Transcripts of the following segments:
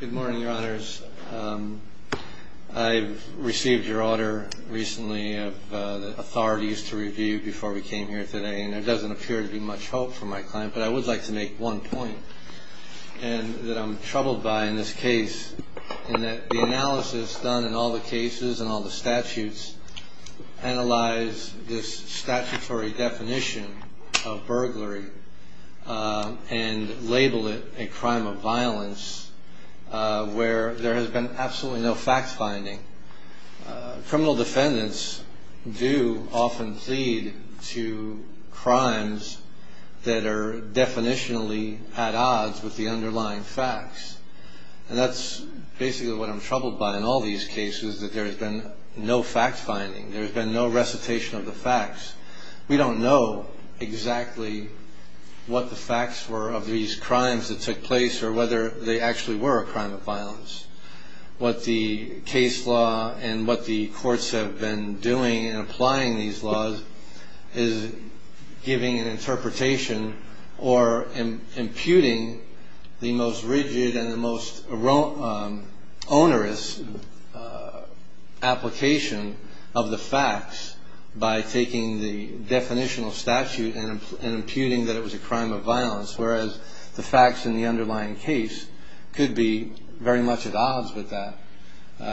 Good morning, your honors. I've received your order recently of the authorities to review before we came here today, and there doesn't appear to be much hope for my client, but I would like to make one point that I'm troubled by in this case, in that the analysis done in all the cases and all the statutes analyze this statutory definition of burglary and label it a crime of violence. Where there has been absolutely no fact-finding. Criminal defendants do often plead to crimes that are definitionally at odds with the underlying facts, and that's basically what I'm troubled by in all these cases, that there has been no fact-finding. There has been no recitation of the facts. We don't know exactly what the facts were of these crimes that took place or whether they actually were a crime of violence. What the case law and what the courts have been doing in applying these laws is giving an interpretation or imputing the most rigid and the most onerous application of the facts by taking the definitional statute and imputing that it was a crime of violence. Whereas the facts in the underlying case could be very much at odds with that.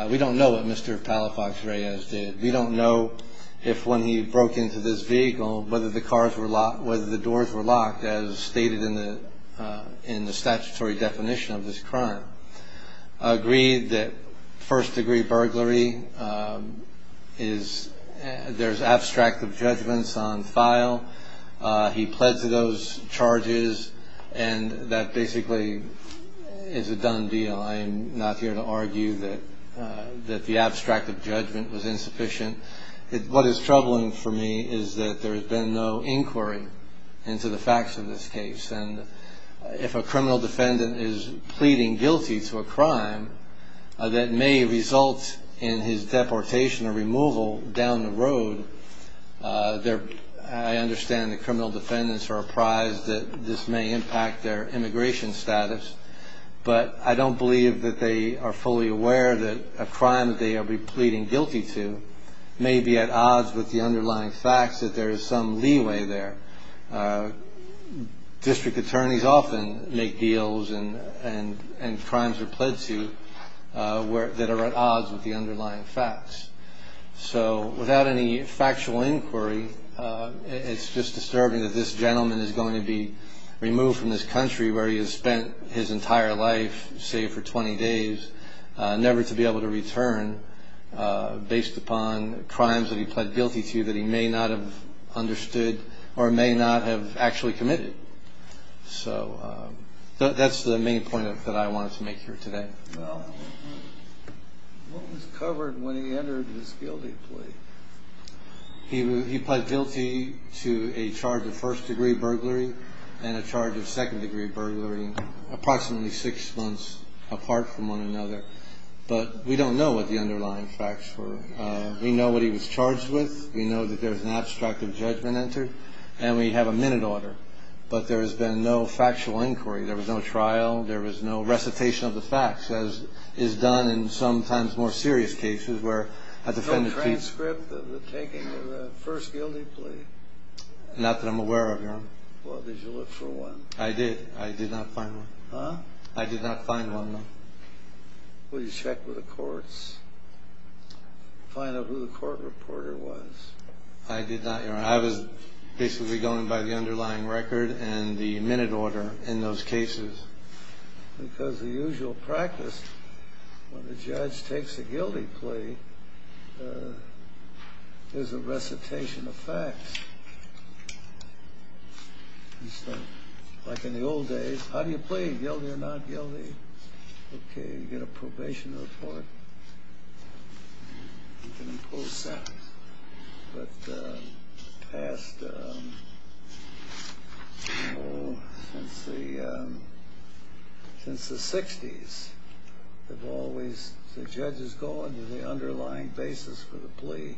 We don't know what Mr. Palafox Reyes did. We don't know if when he broke into this vehicle, whether the doors were locked as stated in the statutory definition of this crime. I agree that first-degree burglary, there's abstract of judgments on file. He pled to those charges and that basically is a done deal. I'm not here to argue that the abstract of judgment was insufficient. What is troubling for me is that there has been no inquiry into the facts of this case. If a criminal defendant is pleading guilty to a crime that may result in his deportation or removal down the road, I understand the criminal defendants are apprised that this may impact their immigration status. But I don't believe that they are fully aware that a crime they are pleading guilty to may be at odds with the underlying facts that there is some leeway there. District attorneys often make deals and crimes are pled to that are at odds with the underlying facts. So without any factual inquiry, it's just disturbing that this gentleman is going to be removed from this country where he has spent his entire life, say for 20 days, never to be able to return based upon crimes that he pled guilty to that he may not have understood or may not have actually committed. So that's the main point that I wanted to make here today. Well, what was covered when he entered his guilty plea? Not that I'm aware of, Your Honor. Well, did you look for one? I did. I did not find one. Huh? I did not find one, no. Well, did you check with the courts? Find out who the court reporter was? I did not, Your Honor. I was basically going by the underlying record and the minute order in those cases. Because the usual practice when the judge takes a guilty plea is a recitation of facts. Like in the old days, how do you plead? Guilty or not guilty? Okay, you get a probation report. You can impose sentence. But since the 60s, the judges go into the underlying basis for the plea,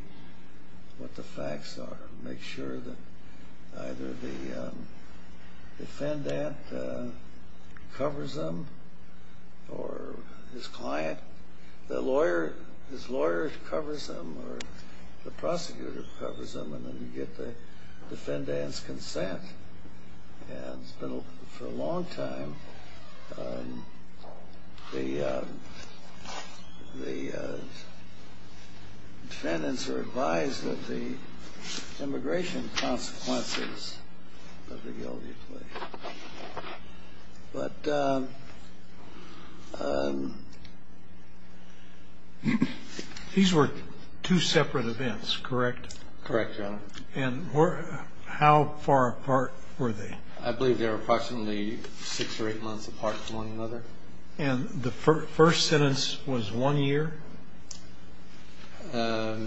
what the facts are, make sure that either the defendant covers them or his client, his lawyer covers them, or the prosecutor covers them, and then you get the defendant's consent. And for a long time, the defendants were advised of the immigration consequences of the guilty plea. These were two separate events, correct? Correct, Your Honor. And how far apart were they? I believe they were approximately six or eight months apart from one another. And the first sentence was one year? I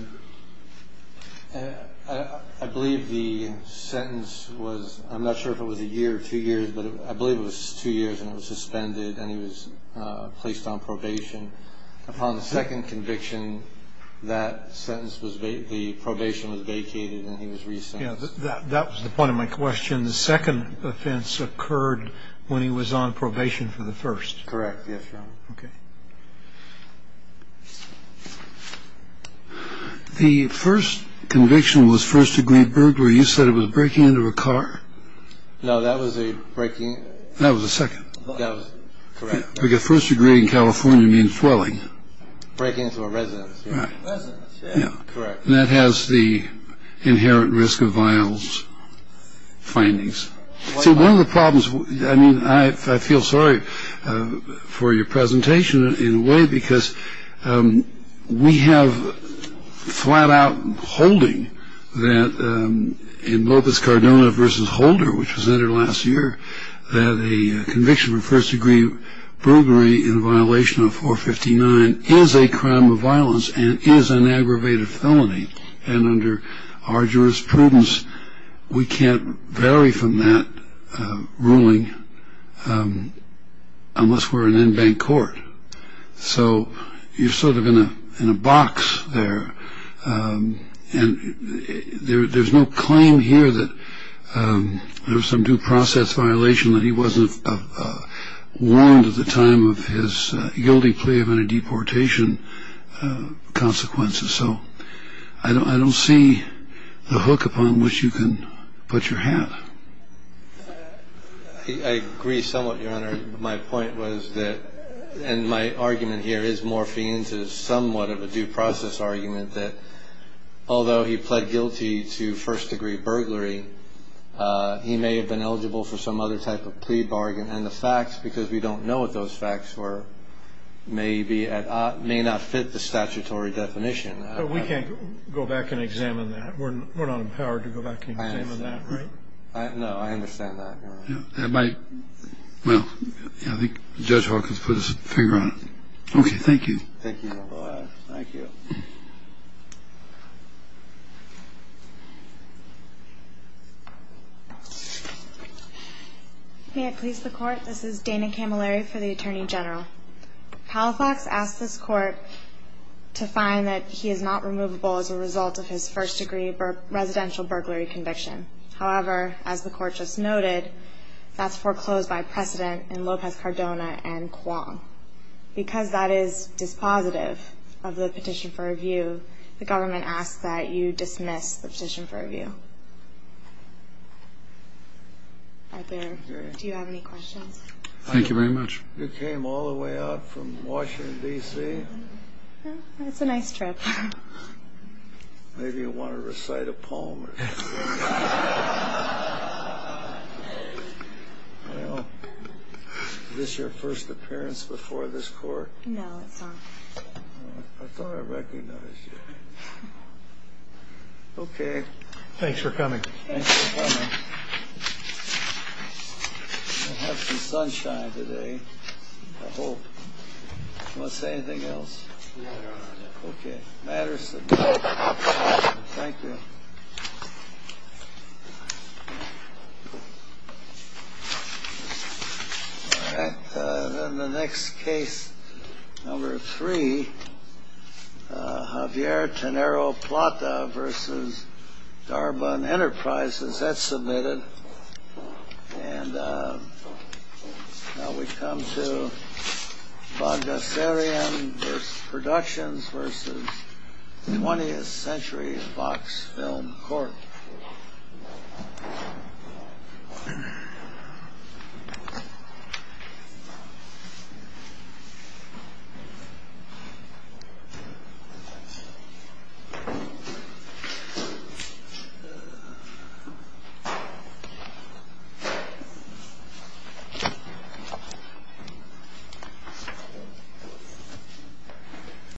believe the sentence was, I'm not sure if it was a year or two years, but I believe it was two years and it was suspended and he was placed on probation. Upon the second conviction, that sentence was, the probation was vacated and he was re-sentenced. That was the point of my question. The second offense occurred when he was on probation for the first. Correct, yes, Your Honor. Okay. The first conviction was first degree burglary. You said it was breaking into a car? No, that was a breaking. That was the second. That was correct. Because first degree in California means dwelling. Breaking into a residence. Right. Residence, yes. Correct. And that has the inherent risk of vials findings. See, one of the problems, I mean, I feel sorry for your presentation in a way, because we have flat out holding that in Lopez Cardona v. Holder, which was entered last year, that a conviction for first degree burglary in violation of 459 is a crime of violence and is an aggravated felony. And under our jurisprudence, we can't vary from that ruling unless we're an in-bank court. So you're sort of in a box there. And there's no claim here that there was some due process violation, that he wasn't warned at the time of his guilty plea of any deportation consequences. So I don't see the hook upon which you can put your hat. I agree somewhat, Your Honor. My point was that, and my argument here is morphine to somewhat of a due process argument, that although he pled guilty to first degree burglary, he may have been eligible for some other type of plea bargain. And the facts, because we don't know what those facts were, may not fit the statutory definition. But we can't go back and examine that. We're not empowered to go back and examine that, right? No, I understand that, Your Honor. Well, I think Judge Hawkins put his finger on it. Okay, thank you. Thank you, Your Honor. Thank you. May it please the Court, this is Dana Camilleri for the Attorney General. Halifax asked this Court to find that he is not removable as a result of his first degree residential burglary conviction. However, as the Court just noted, that's foreclosed by precedent in Lopez-Cardona and Kwong. Because that is dispositive of the petition for removal, the government asks that you dismiss the petition for review. Right there. Do you have any questions? Thank you very much. You came all the way out from Washington, D.C.? It's a nice trip. Maybe you want to recite a poem or something? Well, is this your first appearance before this Court? No, it's not. I thought I recognized you. Okay. Thanks for coming. Thanks for coming. You're going to have some sunshine today, I hope. Do you want to say anything else? No, Your Honor. Okay. It matters to me. Thank you. All right. Then the next case, number three, Javier Tenero Plata v. Darbon Enterprises. That's submitted. And now we come to Bogosarian Productions v. 20th Century Fox Film Court. Thank you.